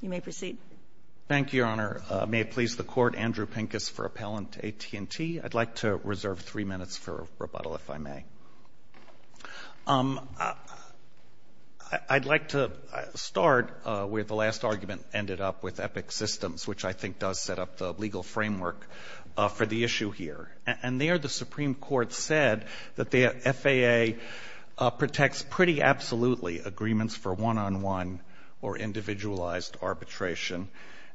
You may proceed. Thank you, Your Honor. May it please the Court, Andrew Pincus for Appellant, AT&T. I'd like to reserve three minutes for rebuttal, if I may. I'd like to start where the last argument ended up with EPIC Systems, which I think does set up the legal framework for the issue here. And there the Supreme Court said that the FAA protects pretty absolutely agreements for one-on-one or individualized arbitration.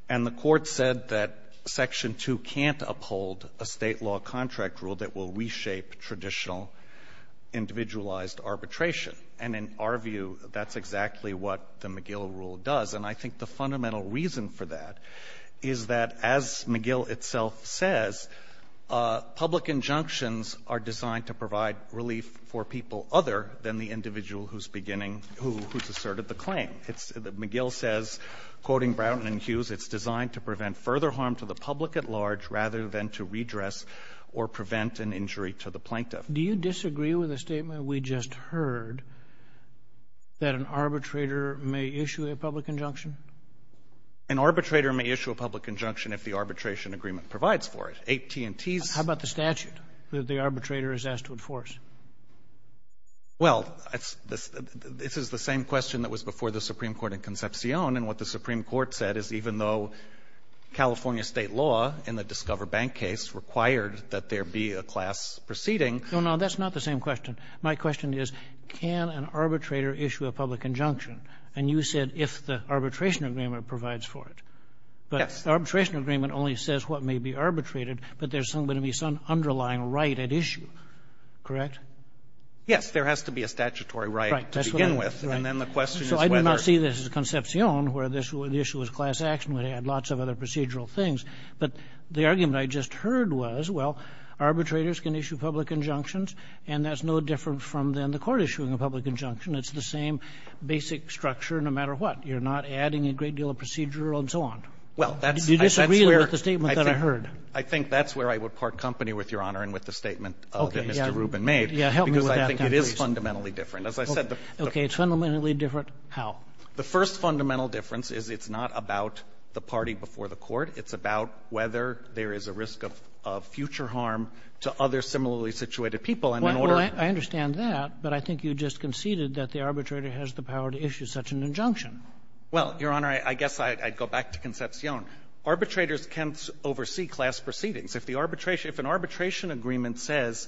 And the Court said that Section 2 can't uphold a state law contract rule that will reshape traditional individualized arbitration. And in our view, that's exactly what the McGill rule does. And I think the fundamental reason for that is that, as McGill itself says, public injunctions are designed to provide relief for people other than the individual who's asserted the claim. McGill says, quoting Brown and Hughes, it's designed to prevent further harm to the public at large rather than to redress or prevent an injury to the plaintiff. Do you disagree with the statement we just heard that an arbitrator may issue a public injunction? An arbitrator may issue a public injunction if the arbitration agreement provides for it. AT&T's— How about the statute that the arbitrator is asked to enforce? Well, this is the same question that was before the Supreme Court in Concepcion. And what the Supreme Court said is even though California state law in the Discover Bank case required that there be a class proceeding— No, no. That's not the same question. My question is, can an arbitrator issue a public injunction? And you said if the arbitration agreement provides for it. Yes. But arbitration agreement only says what may be arbitrated, but there's going to be some underlying right at issue, correct? Yes. There has to be a statutory right to begin with. Right. That's what I— Well, I think that's where I would part company with Your Honor and with the statement Okay. It's fundamentally different how? The first fundamental difference is that arbitrators can issue public injunctions and that's no different from then the court issuing a public injunction. It's the same basic structure no matter what. You're not adding a great deal of procedural and so on. Well, that's where— Do you disagree with the statement that I heard? I think that's where I would part company with Your Honor and with the statement that Mr. Rubin made. Okay. Yeah. Yeah. Help me with that, please. Because I think it is fundamentally different. The second fundamental difference is it's not about the party before the court. It's about whether there is a risk of future harm to other similarly situated And in order— Well, I understand that, but I think you just conceded that the arbitrator has the power to issue such an injunction. Well, Your Honor, I guess I'd go back to Concepcion. Arbitrators can oversee class proceedings. If an arbitration agreement says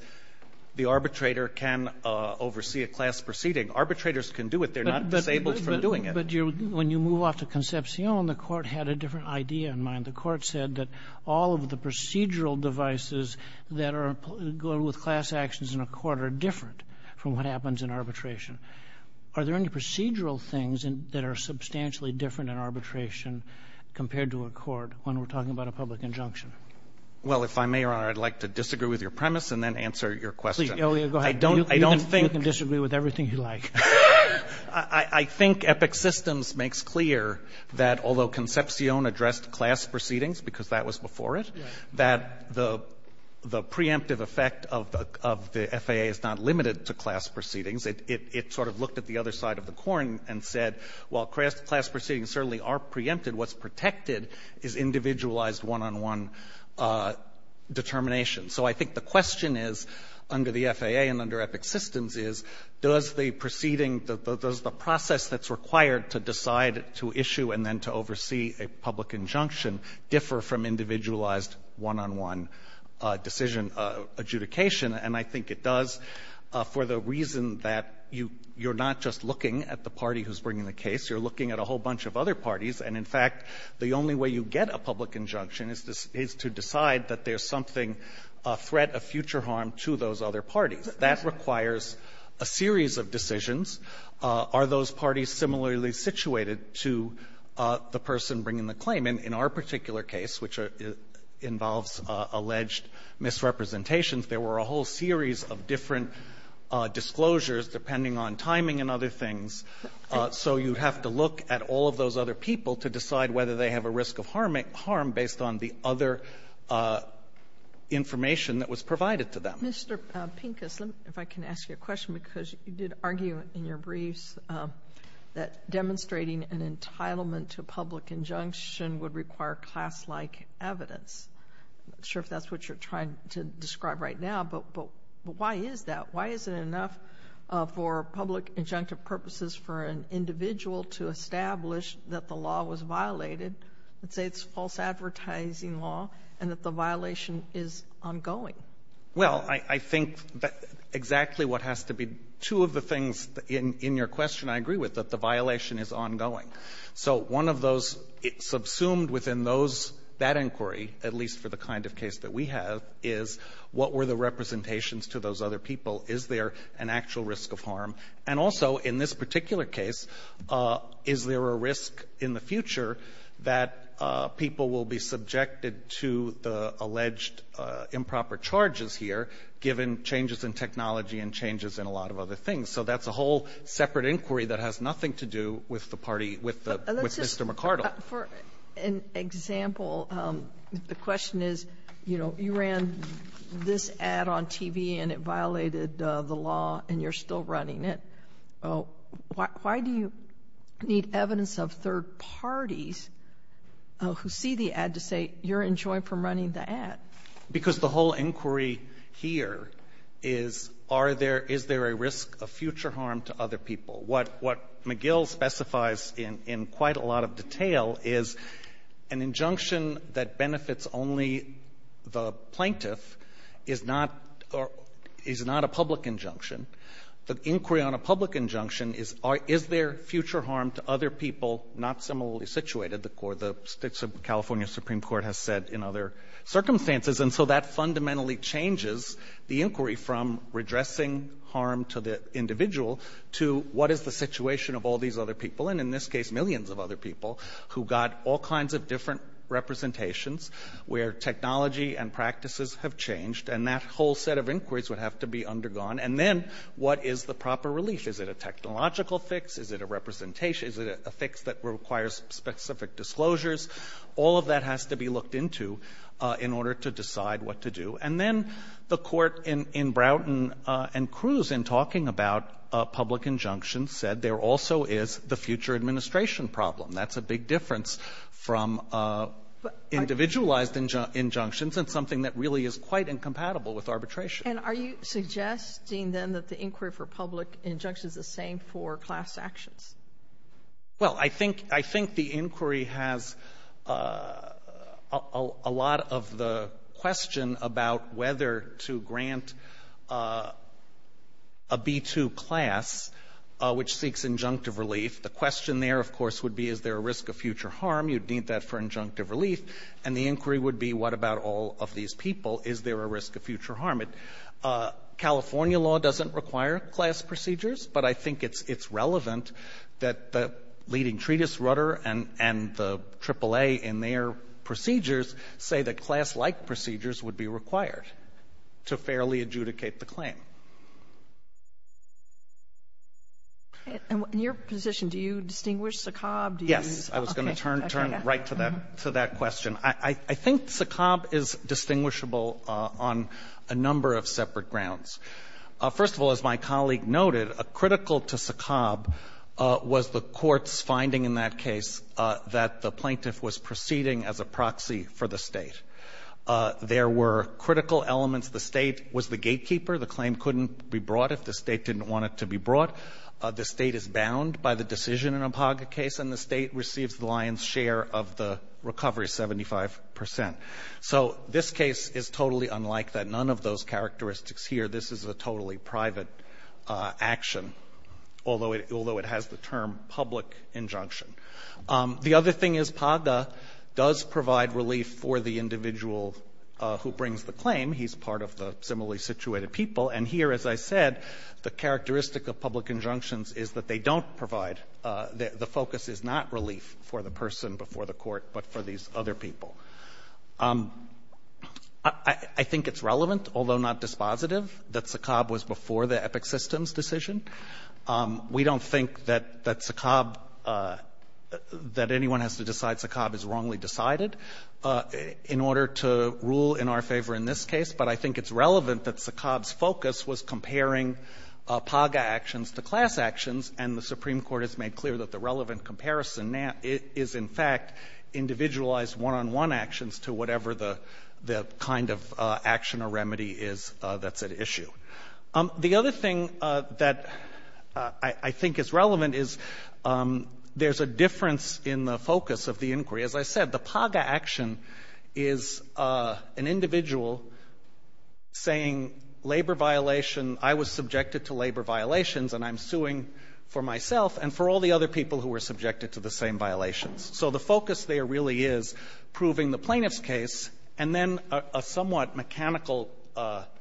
the arbitrator can oversee a class proceeding, Mr. Rubin made. I think that's where I would part company with Your Honor and with the statement that the court had a different idea in mind. The court said that all of the procedural devices that are going with class actions in a court are different from what happens in arbitration. Are there any procedural things that are substantially different in arbitration compared to a court when we're talking about a public injunction? Well, if I may, Your Honor, I'd like to disagree with your premise and then answer your question. Please, Elio, go ahead. I don't think— You can disagree with everything you like. I think EPIC Systems makes clear that although Concepcion addressed class proceedings because that was before it, that the preemptive effect of the FAA is not limited to class proceedings. It sort of looked at the other side of the coin and said, well, class proceedings certainly are preempted. What's protected is individualized one-on-one determination. So I think the question is, under the FAA and under EPIC Systems, is does the proceeding, does the process that's required to decide to issue and then to oversee a public injunction differ from individualized one-on-one decision adjudication? And I think it does for the reason that you're not just looking at the party who's bringing the case. You're looking at a whole bunch of other parties. And in fact, the only way you get a public injunction is to decide that there's something, a threat of future harm to those other parties. That requires a series of decisions. Are those parties similarly situated to the person bringing the claim? And in our particular case, which involves alleged misrepresentations, there were a whole series of different disclosures, depending on timing and other things. So you have to look at all of those other people to decide whether they have a risk of harm based on the other information that was provided to them. Mr. Pincus, if I can ask you a question, because you did argue in your briefs that demonstrating an entitlement to a public injunction would require class-like evidence. I'm not sure if that's what you're trying to describe right now, but why is that? Why is it enough for public injunctive purposes for an individual to establish that the law was violated, let's say it's false advertising law, and that the violation is ongoing? Well, I think that exactly what has to be two of the things in your question I agree with, that the violation is ongoing. So one of those subsumed within that inquiry, at least for the kind of case that we have, is what were the representations to those other people? Is there an actual risk of harm? And also, in this particular case, is there a risk in the future that people will be given changes in technology and changes in a lot of other things? So that's a whole separate inquiry that has nothing to do with the party, with Mr. McArdle. But let's just, for an example, the question is, you know, you ran this ad on TV and it violated the law and you're still running it. Why do you need evidence of third parties who see the ad to say you're enjoined from running the ad? Because the whole inquiry here is, is there a risk of future harm to other people? What McGill specifies in quite a lot of detail is an injunction that benefits only the plaintiff is not a public injunction. The inquiry on a public injunction is, is there future harm to other people not similarly situated? The California Supreme Court has said in other circumstances. And so that fundamentally changes the inquiry from redressing harm to the individual to what is the situation of all these other people? And in this case, millions of other people who got all kinds of different representations where technology and practices have changed. And that whole set of inquiries would have to be undergone. And then what is the proper relief? Is it a technological fix? Is it a representation? Is it a fix that requires specific disclosures? All of that has to be looked into in order to decide what to do. And then the court in Brownton and Cruz in talking about public injunctions said there also is the future administration problem. That's a big difference from individualized injunctions and something that really is quite incompatible with arbitration. And are you suggesting then that the inquiry for public injunctions is the same for class actions? Well, I think the inquiry has a lot of the question about whether to grant a B2 class which seeks injunctive relief. The question there, of course, would be is there a risk of future harm? You'd need that for injunctive relief. And the inquiry would be what about all of these people? Is there a risk of future harm? California law doesn't require class procedures, but I think it's relevant that the leading treatise rudder and the AAA in their procedures say that class-like procedures would be required to fairly adjudicate the claim. In your position, do you distinguish SACOB? Yes. I was going to turn right to that question. I think SACOB is distinguishable on a number of separate grounds. First of all, as my colleague noted, critical to SACOB was the court's finding in that case that the plaintiff was proceeding as a proxy for the State. There were critical elements. The State was the gatekeeper. The claim couldn't be brought if the State didn't want it to be brought. The State is bound by the decision in a BHAGA case, and the State receives the lion's share of the recovery, 75%. So this case is totally unlike that. None of those characteristics here. This is a totally private action, although it has the term public injunction. The other thing is BHAGA does provide relief for the individual who brings the claim. He's part of the similarly situated people. And here, as I said, the characteristic of public injunctions is that they don't provide the focus is not relief for the person before the court, but for these other people. I think it's relevant, although not dispositive, that SACOB was before the Epic Systems decision. We don't think that SACOB, that anyone has to decide SACOB is wrongly decided in order to rule in our favor in this case, but I think it's relevant that SACOB's focus was comparing BHAGA actions to class actions, and the Supreme Court has made clear that the relevant comparison is, in fact, individualized one-on-one actions to whatever the kind of action or remedy is that's at issue. The other thing that I think is relevant is there's a difference in the focus of the inquiry. As I said, the BHAGA action is an individual saying labor violation, I was subjected to labor violations, and I'm suing for myself and for all the other people who were subjected to the same violations. So the focus there really is proving the plaintiff's case and then a somewhat mechanical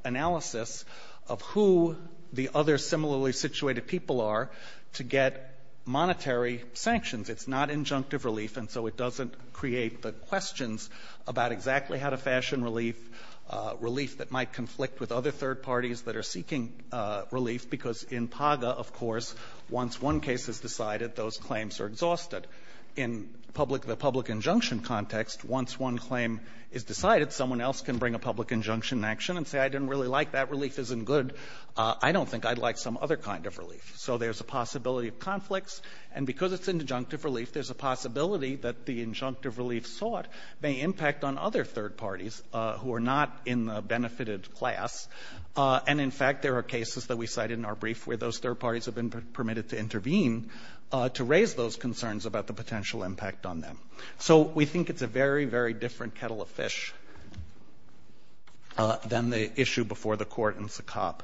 analysis of who the other similarly situated people are to get monetary sanctions. It's not injunctive relief, and so it doesn't create the questions about exactly how to fashion relief, that might conflict with other third parties that are seeking relief, because in BHAGA, of course, once one case is decided, those claims are exhausted. In the public injunction context, once one claim is decided, someone else can bring a public injunction in action and say, I didn't really like that, relief isn't good, I don't think I'd like some other kind of relief. So there's a possibility of conflicts, and because it's injunctive relief, there's a possibility that the injunctive relief sought may impact on other third parties who are not in the benefited class. And, in fact, there are cases that we cited in our brief where those third parties have been permitted to intervene to raise those concerns about the potential impact on them. So we think it's a very, very different kettle of fish than the issue before the court in SACOP.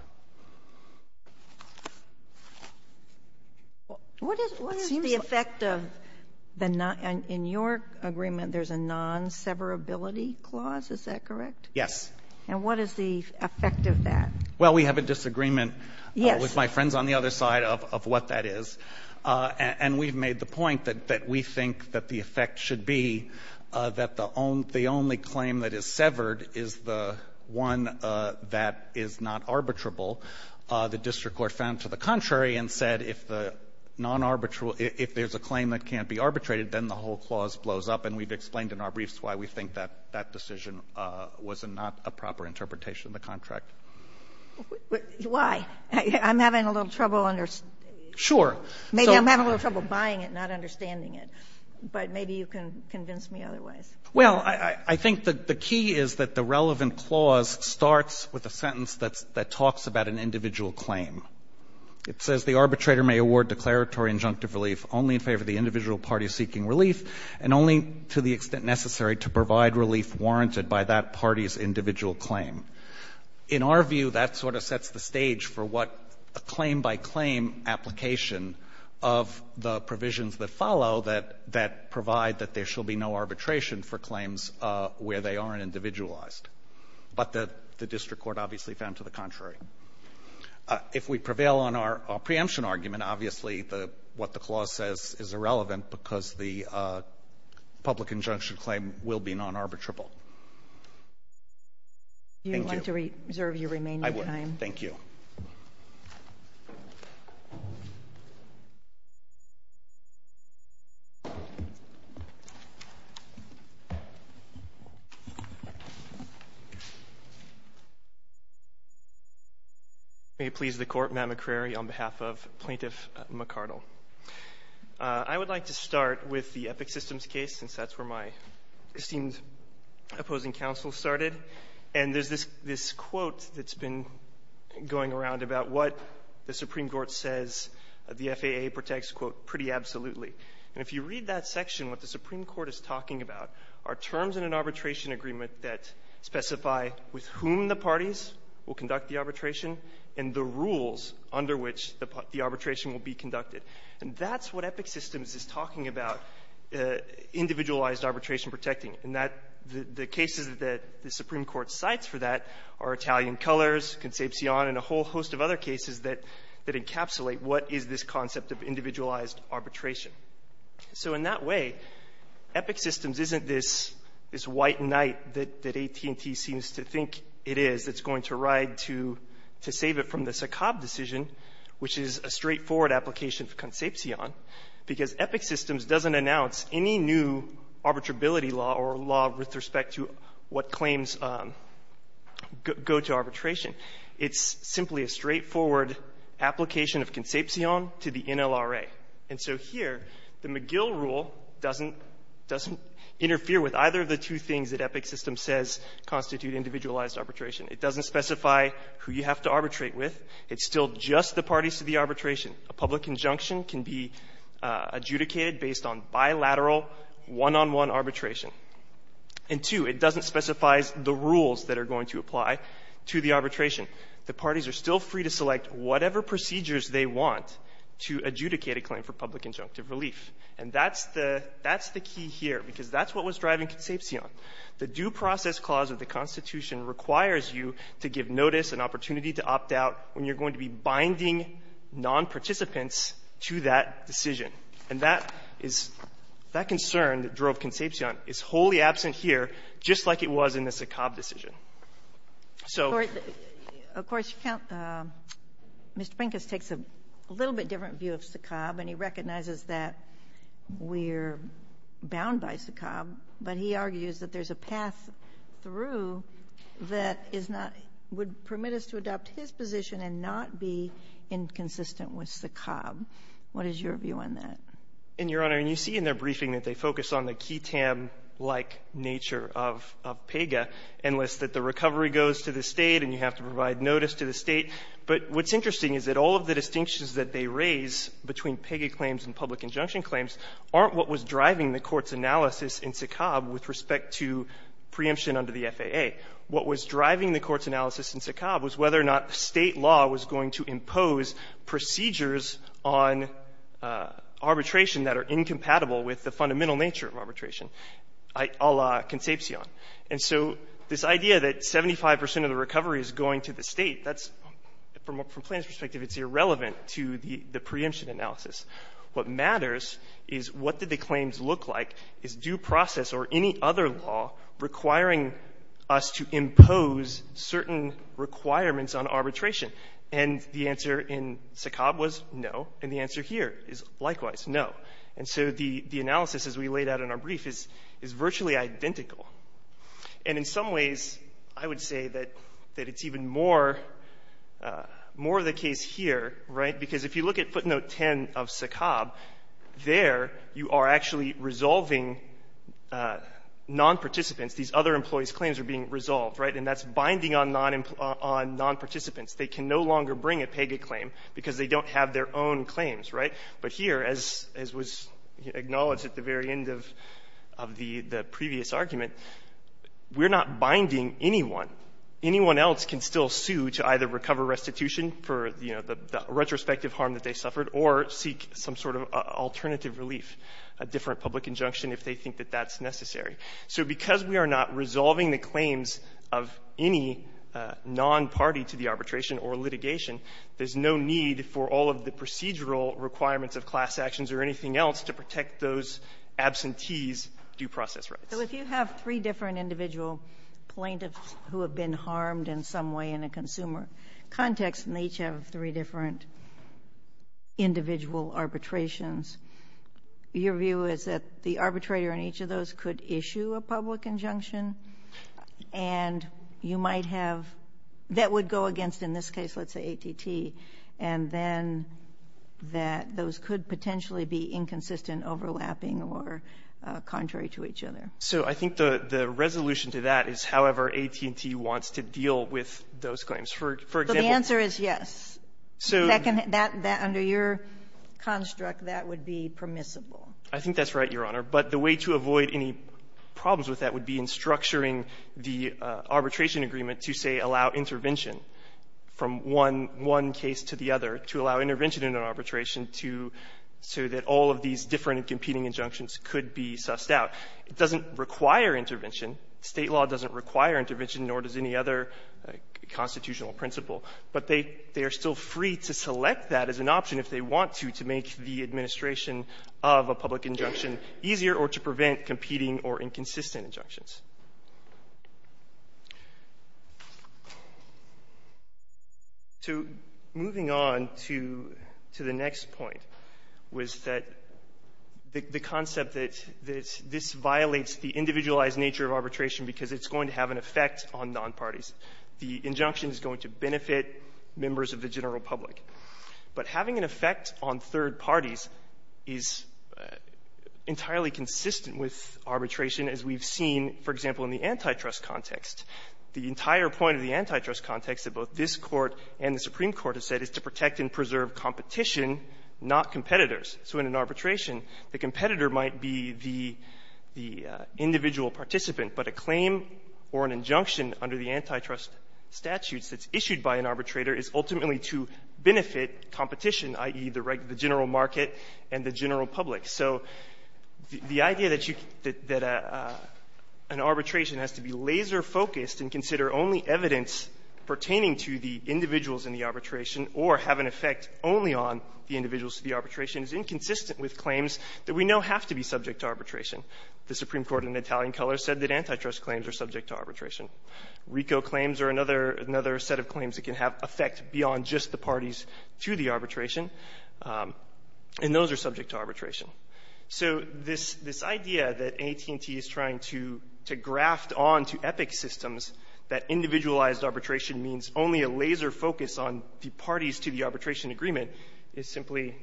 What is the effect of the non- in your agreement there's a non-severability clause, is that correct? Yes. And what is the effect of that? Well, we have a disagreement with my friends on the other side of what that is, and we've made the point that we think that the effect should be that the only claim that is severed is the one that is not arbitrable. The district court found to the contrary and said if the non-arbitral if there's a claim that can't be arbitrated, then the whole clause blows up. And we've explained in our briefs why we think that that decision was not a proper interpretation of the contract. Why? I'm having a little trouble understanding. Sure. Maybe I'm having a little trouble buying it and not understanding it, but maybe you can convince me otherwise. Well, I think the key is that the relevant clause starts with a sentence that talks about an individual claim. It says the arbitrator may award declaratory injunctive relief only in favor of the individual party seeking relief and only to the extent necessary to provide relief warranted by that party's individual claim. In our view, that sort of sets the stage for what a claim-by-claim application of the provisions that follow that provide that there shall be no arbitration for claims where they aren't individualized. But the district court obviously found to the contrary. If we prevail on our preemption argument, obviously what the clause says is irrelevant because the public injunction claim will be non-arbitrable. Thank you. Do you want to reserve your remaining time? I would. Thank you. May it please the Court. Matt McCrary on behalf of Plaintiff McArdle. I would like to start with the Epic Systems case since that's where my esteemed opposing counsel started. And there's this quote that's been going around about what the Supreme Court says the FAA protects, quote, pretty absolutely. And if you read that section, what the Supreme Court is talking about are terms in an arbitration agreement that specify with whom the parties will conduct the arbitration and the rules under which the arbitration will be conducted. And that's what Epic Systems is talking about, individualized arbitration protecting. And the cases that the Supreme Court cites for that are Italian Colors, Concepcion, and a whole host of other cases that encapsulate what is this concept of individualized arbitration. So in that way, Epic Systems isn't this white knight that AT&T seems to think it is that's going to ride to save it from the SACOB decision, which is a straightforward application for Concepcion, because Epic Systems doesn't announce any new arbitrability law or law with respect to what claims go to arbitration. It's simply a straightforward application of Concepcion to the NLRA. And so here, the McGill rule doesn't interfere with either of the two things that Epic Systems says constitute individualized arbitration. It doesn't specify who you have to arbitrate with. It's still just the parties to the arbitration. A public injunction can be adjudicated based on bilateral, one-on-one arbitration. And, two, it doesn't specify the rules that are going to apply to the arbitration. The parties are still free to select whatever procedures they want to adjudicate a claim for public injunctive relief. And that's the key here, because that's what was driving Concepcion. The due process clause of the Constitution requires you to give notice, an opportunity to opt out when you're going to be binding nonparticipants to that decision. And that is — that concern that drove Concepcion is wholly absent here, just like it was in the Sakab decision. So — Of course, you can't — Mr. Finkus takes a little bit different view of Sakab, and he recognizes that we're bound by Sakab, but he argues that there's a path through that is not — would permit us to adopt his position and not be inconsistent with Sakab. What is your view on that? And, Your Honor, and you see in their briefing that they focus on the QI-TAM-like nature of PEGA, and list that the recovery goes to the State and you have to provide notice to the State. But what's interesting is that all of the distinctions that they raise between PEGA claims and public injunction claims aren't what was driving the Court's analysis in Sakab with respect to preemption under the FAA. What was driving the Court's analysis in Sakab was whether or not State law was going to impose procedures on arbitration that are incompatible with the fundamental nature of arbitration a la concepcion. And so this idea that 75 percent of the recovery is going to the State, that's — from a plaintiff's perspective, it's irrelevant to the preemption analysis. What matters is what did the claims look like? Is due process or any other law requiring us to impose certain requirements on arbitration? And the answer in Sakab was no. And the answer here is likewise, no. And so the analysis, as we laid out in our brief, is virtually identical. And in some ways, I would say that it's even more of the case here, right? Because if you look at footnote 10 of Sakab, there you are actually resolving nonparticipants. These other employees' claims are being resolved, right? And that's binding on nonparticipants. They can no longer bring a PEGA claim because they don't have their own claims, right? But here, as was acknowledged at the very end of the previous argument, we're not binding anyone. Anyone else can still sue to either recover restitution for, you know, the retrospective harm that they suffered or seek some sort of alternative relief, a different public injunction if they think that that's necessary. So because we are not resolving the claims of any nonparty to the arbitration or litigation, there's no need for all of the procedural requirements of class actions or anything else to protect those absentees' due process rights. So if you have three different individual plaintiffs who have been harmed in some way in a consumer context and each have three different individual arbitrations, your view is that the arbitrator in each of those could issue a public injunction and you might have — that would go against, in this case, let's say AT&T, and then that those could potentially be inconsistent, overlapping, or contrary to each other. So I think the resolution to that is however AT&T wants to deal with those claims. For example — But the answer is yes. So — Under your construct, that would be permissible. I think that's right, Your Honor. But the way to avoid any problems with that would be in structuring the arbitration agreement to, say, allow intervention from one case to the other, to allow intervention in an arbitration to — so that all of these different competing injunctions could be sussed out. It doesn't require intervention. State law doesn't require intervention, nor does any other constitutional principle, but they are still free to select that as an option if they want to, to make the administration of a public injunction easier or to prevent competing or inconsistent injunctions. So moving on to the next point was that the concept that this violates the individualized nature of arbitration because it's going to have an effect on nonparties. The injunction is going to benefit members of the general public. But having an effect on third parties is entirely consistent with arbitration as we've seen, for example, in the antitrust context. The entire point of the antitrust context that both this Court and the Supreme Court have said is to protect and preserve competition, not competitors. So in an arbitration, the competitor might be the — the individual participant, but a claim or an injunction under the antitrust statutes that's issued by an arbitrator is ultimately to benefit competition, i.e., the general market and the general public. So the idea that you — that an arbitration has to be laser-focused and consider only evidence pertaining to the individuals in the arbitration or have an effect only on the individuals in the arbitration is inconsistent with claims that we know have to be subject to arbitration. The Supreme Court in Italian color said that antitrust claims are subject to arbitration. RICO claims are another — another set of claims that can have effect beyond just the parties to the arbitration, and those are subject to arbitration. So this — this idea that AT&T is trying to — to graft onto EPIC systems that individualized arbitration means only a laser focus on the parties to the arbitration agreement is simply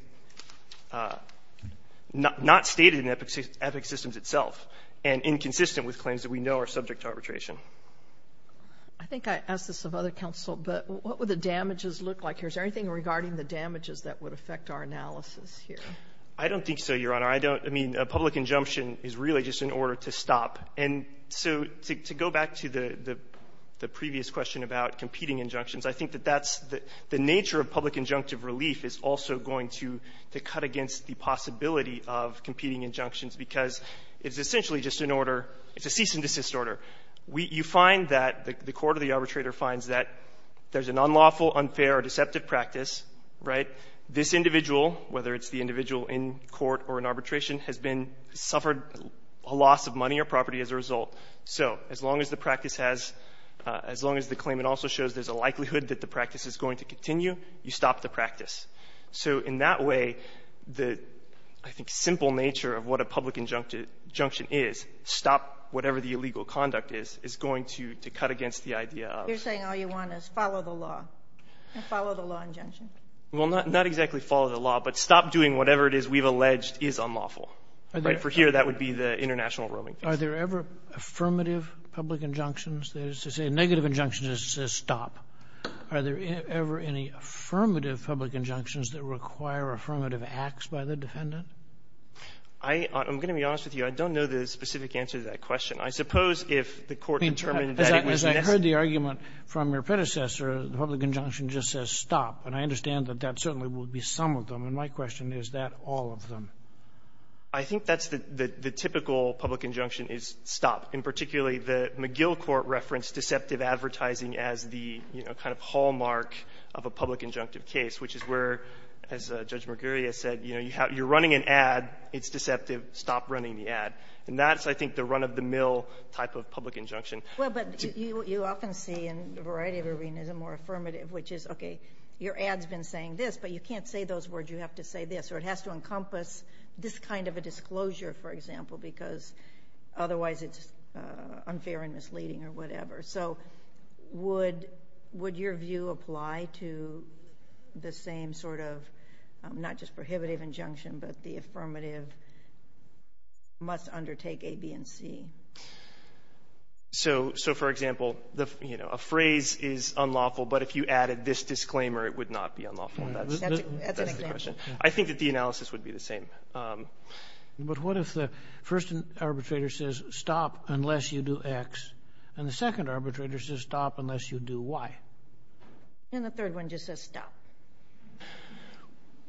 not — not stated in EPIC systems itself and inconsistent with claims that we know are subject to arbitration. I think I asked this of other counsel, but what would the damages look like here? Is there anything regarding the damages that would affect our analysis here? I don't think so, Your Honor. I don't — I mean, a public injunction is really just an order to stop. And so to — to go back to the — the previous question about competing injunctions, I think that that's — the nature of public injunctive relief is also going to cut against the possibility of competing injunctions because it's essentially just an order — it's a cease-and-desist order. We — you find that — the court or the arbitrator finds that there's an unlawful, unfair, or deceptive practice, right? This individual, whether it's the individual in court or in arbitration, has been — suffered a loss of money or property as a result. So as long as the practice has — as long as the claimant also shows there's a likelihood that the practice is going to continue, you stop the practice. So in that way, the, I think, simple nature of what a public injunction is, stop whatever the illegal conduct is, is going to cut against the idea of — You're saying all you want is follow the law and follow the law injunction. Well, not — not exactly follow the law, but stop doing whatever it is we've alleged is unlawful, right? For here, that would be the international roaming case. Are there ever affirmative public injunctions? There's a negative injunction that says stop. Are there ever any affirmative public injunctions that require affirmative acts by the defendant? I — I'm going to be honest with you. I don't know the specific answer to that question. I suppose if the court determined that it was necessary — I mean, as I heard the argument from your predecessor, the public injunction just says stop. And I understand that that certainly would be some of them. And my question is, is that all of them? I think that's the — the typical public injunction is stop. And particularly, the McGill court referenced deceptive advertising as the, you know, kind of hallmark of a public injunctive case, which is where, as Judge Marguerita said, you know, you're running an ad, it's deceptive, stop running the ad. And that's, I think, the run-of-the-mill type of public injunction. Well, but you often see in a variety of arenas a more affirmative, which is, okay, your ad's been saying this, but you can't say those words, you have to say this. Or it has to encompass this kind of a disclosure, for example, because otherwise it's unfair and misleading or whatever. So would your view apply to the same sort of not just prohibitive injunction, but the affirmative must undertake A, B, and C? So, for example, you know, a phrase is unlawful, but if you added this disclaimer, it would not be unlawful. That's an example. That's a good question. I think that the analysis would be the same. But what if the first arbitrator says stop unless you do X, and the second arbitrator says stop unless you do Y? And the third one just says stop.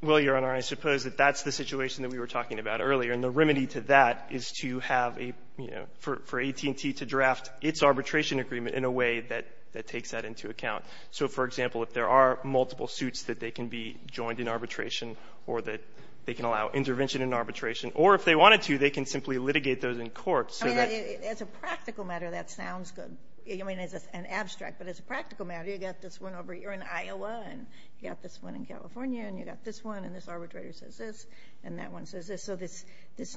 Well, Your Honor, I suppose that that's the situation that we were talking about earlier, and the remedy to that is to have a, you know, for AT&T to draft its arbitration agreement in a way that takes that into account. So, for example, if there are multiple suits that they can be joined in arbitration or that they can allow intervention in arbitration, or if they wanted to, they can simply litigate those in court. As a practical matter, that sounds good. I mean, it's an abstract, but as a practical matter, you've got this one over here in Iowa, and you've got this one in California, and you've got this one, and this arbitrator says this, and that one says this. So this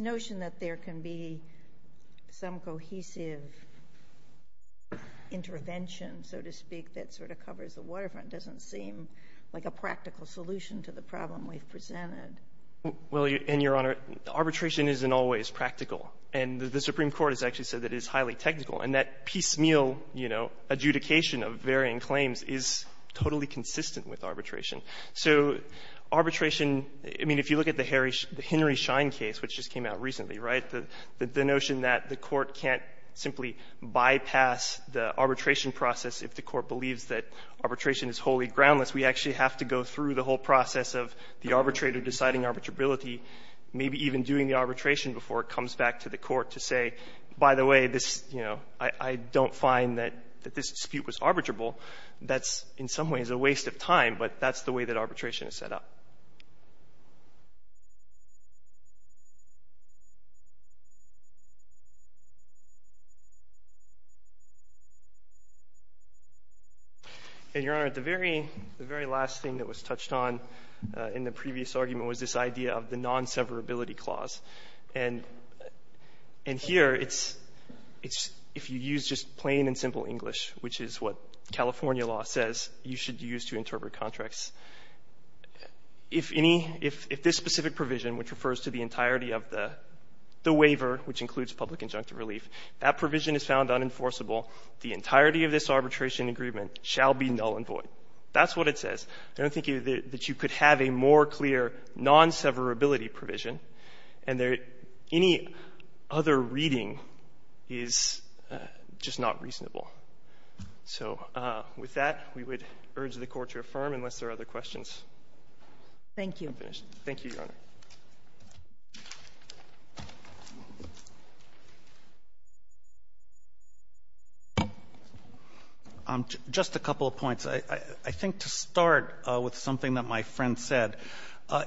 notion that there can be some cohesive intervention, so to speak, that sort of covers the waterfront doesn't seem like a practical solution to the problem we've presented. Well, and Your Honor, arbitration isn't always practical. And the Supreme Court has actually said that it is highly technical, and that piecemeal, you know, adjudication of varying claims is totally consistent with arbitration. So arbitration, I mean, if you look at the Henry Schein case, which just came out recently, right, the notion that the Court can't simply bypass the arbitration process if the Court believes that arbitration is wholly groundless. We actually have to go through the whole process of the arbitrator deciding arbitrability, maybe even doing the arbitration before it comes back to the Court to say, by the way, this, you know, I don't find that this dispute was arbitrable. That's in some ways a waste of time, but that's the way that arbitration is set up. And, Your Honor, the very last thing that was touched on in the previous argument was this idea of the non-severability clause. And here it's, if you use just plain and simple English, which is what California law says you should use to interpret contracts, if any, if this specific provision, which refers to the entirety of the waiver, which includes public injunctive relief, that provision is found unenforceable, the entirety of this arbitration agreement shall be null and void. That's what it says. I don't think that you could have a more clear non-severability provision, and any other reading is just not reasonable. So with that, we would urge the Court to affirm, unless there are other questions. Thank you. Thank you, Your Honor. Just a couple of points. I think to start with something that my friend said,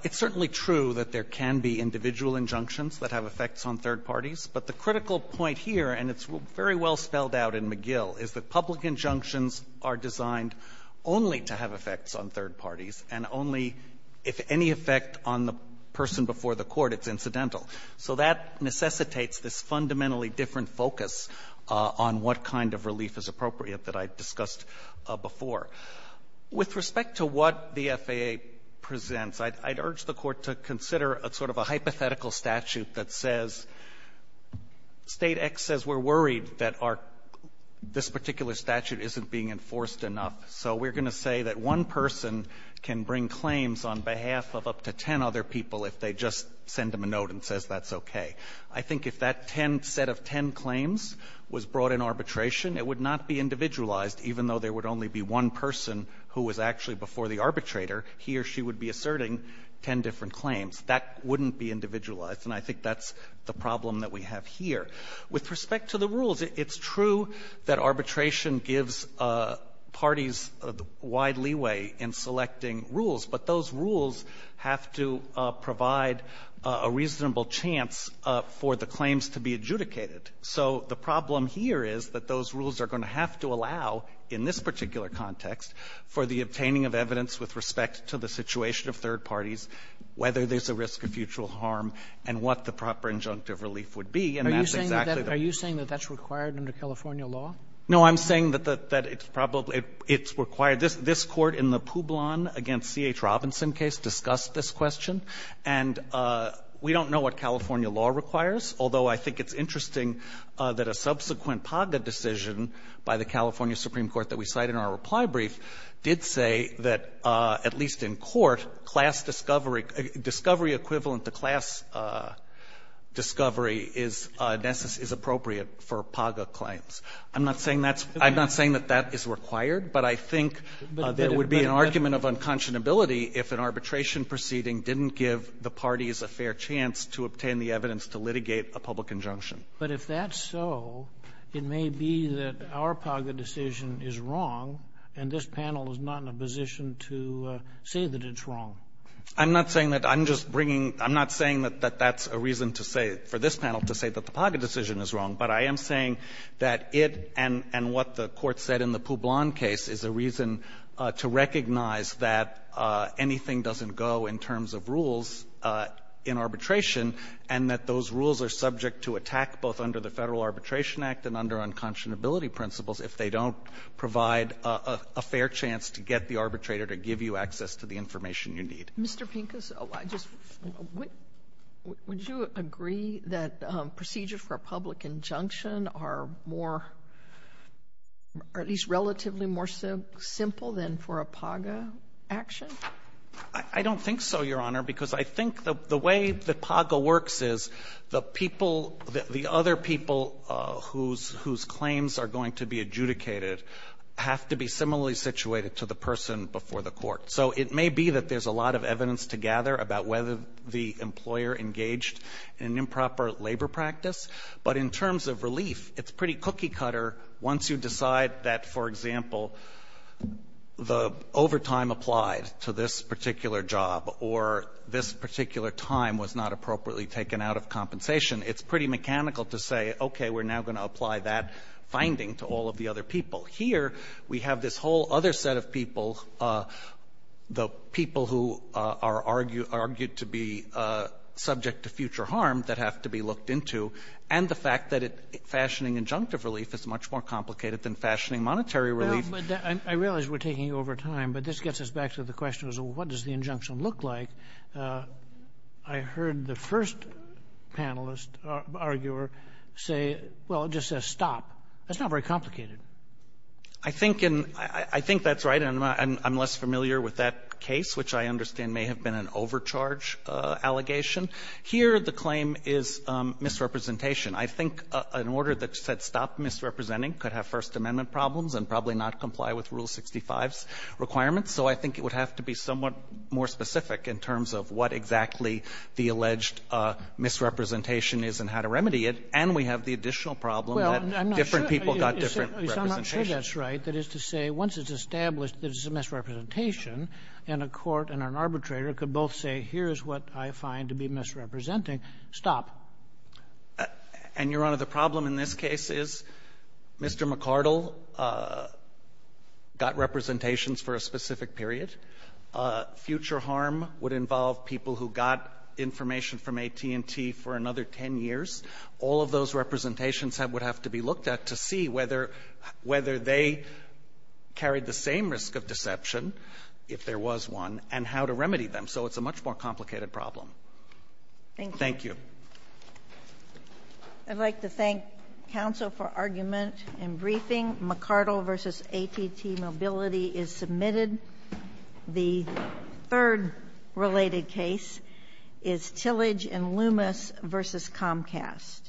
it's certainly true that there can be individual injunctions that have effects on third parties, but the critical point here, and it's very well spelled out in McGill, is that public injunctions are designed only to have effects on third parties and only, if any effect on the person before the Court, it's incidental. So that necessitates this fundamentally different focus on what kind of relief is appropriate that I discussed before. With respect to what the FAA presents, I'd urge the Court to consider a sort of a hypothetical statute that says State X says we're worried that our — this particular statute isn't being enforced enough. So we're going to say that one person can bring claims on behalf of up to ten other people if they just send them a note and says that's okay. I think if that ten — set of ten claims was brought in arbitration, it would not be individualized, even though there would only be one person who was actually before the arbitrator. He or she would be asserting ten different claims. That wouldn't be individualized, and I think that's the problem that we have here. With respect to the rules, it's true that arbitration gives parties wide leeway in selecting rules, but those rules have to provide a reasonable chance for the claims to be adjudicated. So the problem here is that those rules are going to have to allow, in this particular context, for the obtaining of evidence with respect to the situation of third parties, whether there's a risk of future harm, and what the proper injunctive relief would be. And that's exactly the — Are you saying that that's required under California law? No, I'm saying that it's probably — it's required. This Court in the Publon against C.H. Robinson case discussed this question, and we don't know what California law requires, although I think it's interesting that a subsequent PAGA decision by the California Supreme Court that we cite in our reply brief did say that at least in court, class discovery — discovery equivalent to class discovery is appropriate for PAGA claims. I'm not saying that's — I'm not saying that that is required, but I think there would be an argument of unconscionability if an arbitration proceeding didn't give the parties a fair chance to obtain the evidence to litigate a public injunction. But if that's so, it may be that our PAGA decision is wrong, and this panel is not in a position to say that it's wrong. I'm not saying that. I'm just bringing — I'm not saying that that's a reason to say — for this panel to say that the PAGA decision is wrong, but I am saying that it — and what the Court said in the Publon case is a reason to recognize that anything doesn't go in terms of rules in arbitration, and that those rules are subject to attack both under the Federal Arbitration Act and under unconscionability principles if they don't provide a fair chance to get the arbitrator to give you access to the information you need. Mr. Pincus, would you agree that procedures for a public injunction are more — are at least relatively more simple than for a PAGA action? I don't think so, Your Honor, because I think the way that PAGA works is the people — the other people whose claims are going to be adjudicated have to be similarly situated to the person before the Court. So it may be that there's a lot of evidence to gather about whether the employer engaged in improper labor practice, but in terms of relief, it's pretty cookie-cutter once you decide that, for example, the overtime applied to this particular job or this particular time was not appropriately taken out of compensation. It's pretty mechanical to say, okay, we're now going to apply that finding to all of the other people. Here, we have this whole other set of people, the people who are argued to be subject to future harm that have to be looked into, and the fact that fashioning injunctive relief is much more complicated than fashioning monetary relief. I realize we're taking over time, but this gets us back to the question of what does the injunction look like. I heard the first panelist, arguer, say, well, it just says stop. That's not very complicated. Pincuster I think that's right, and I'm less familiar with that case, which I understand may have been an overcharge allegation. Here, the claim is misrepresentation. I think an order that said stop misrepresenting could have First Amendment problems and probably not comply with Rule 65's requirements, so I think it would have to be somewhat more specific in terms of what exactly the alleged misrepresentation is and how to remedy it, and we have the additional problem that different people got different representations. I'm not sure that's right. That is to say, once it's established that it's a misrepresentation, and a court and an arbitrator could both say, here's what I find to be misrepresenting. Stop. And, Your Honor, the problem in this case is Mr. McCardle got representations for a specific period. Future harm would involve people who got information from AT&T for another 10 years. All of those representations would have to be looked at to see whether they carried the same risk of deception, if there was one, and how to remedy them. So it's a much more complicated problem. Thank you. Thank you. I'd like to thank counsel for argument in briefing. McCardle v. AT&T Mobility is submitted. The third related case is Tillage v. Loomis v. Comcast.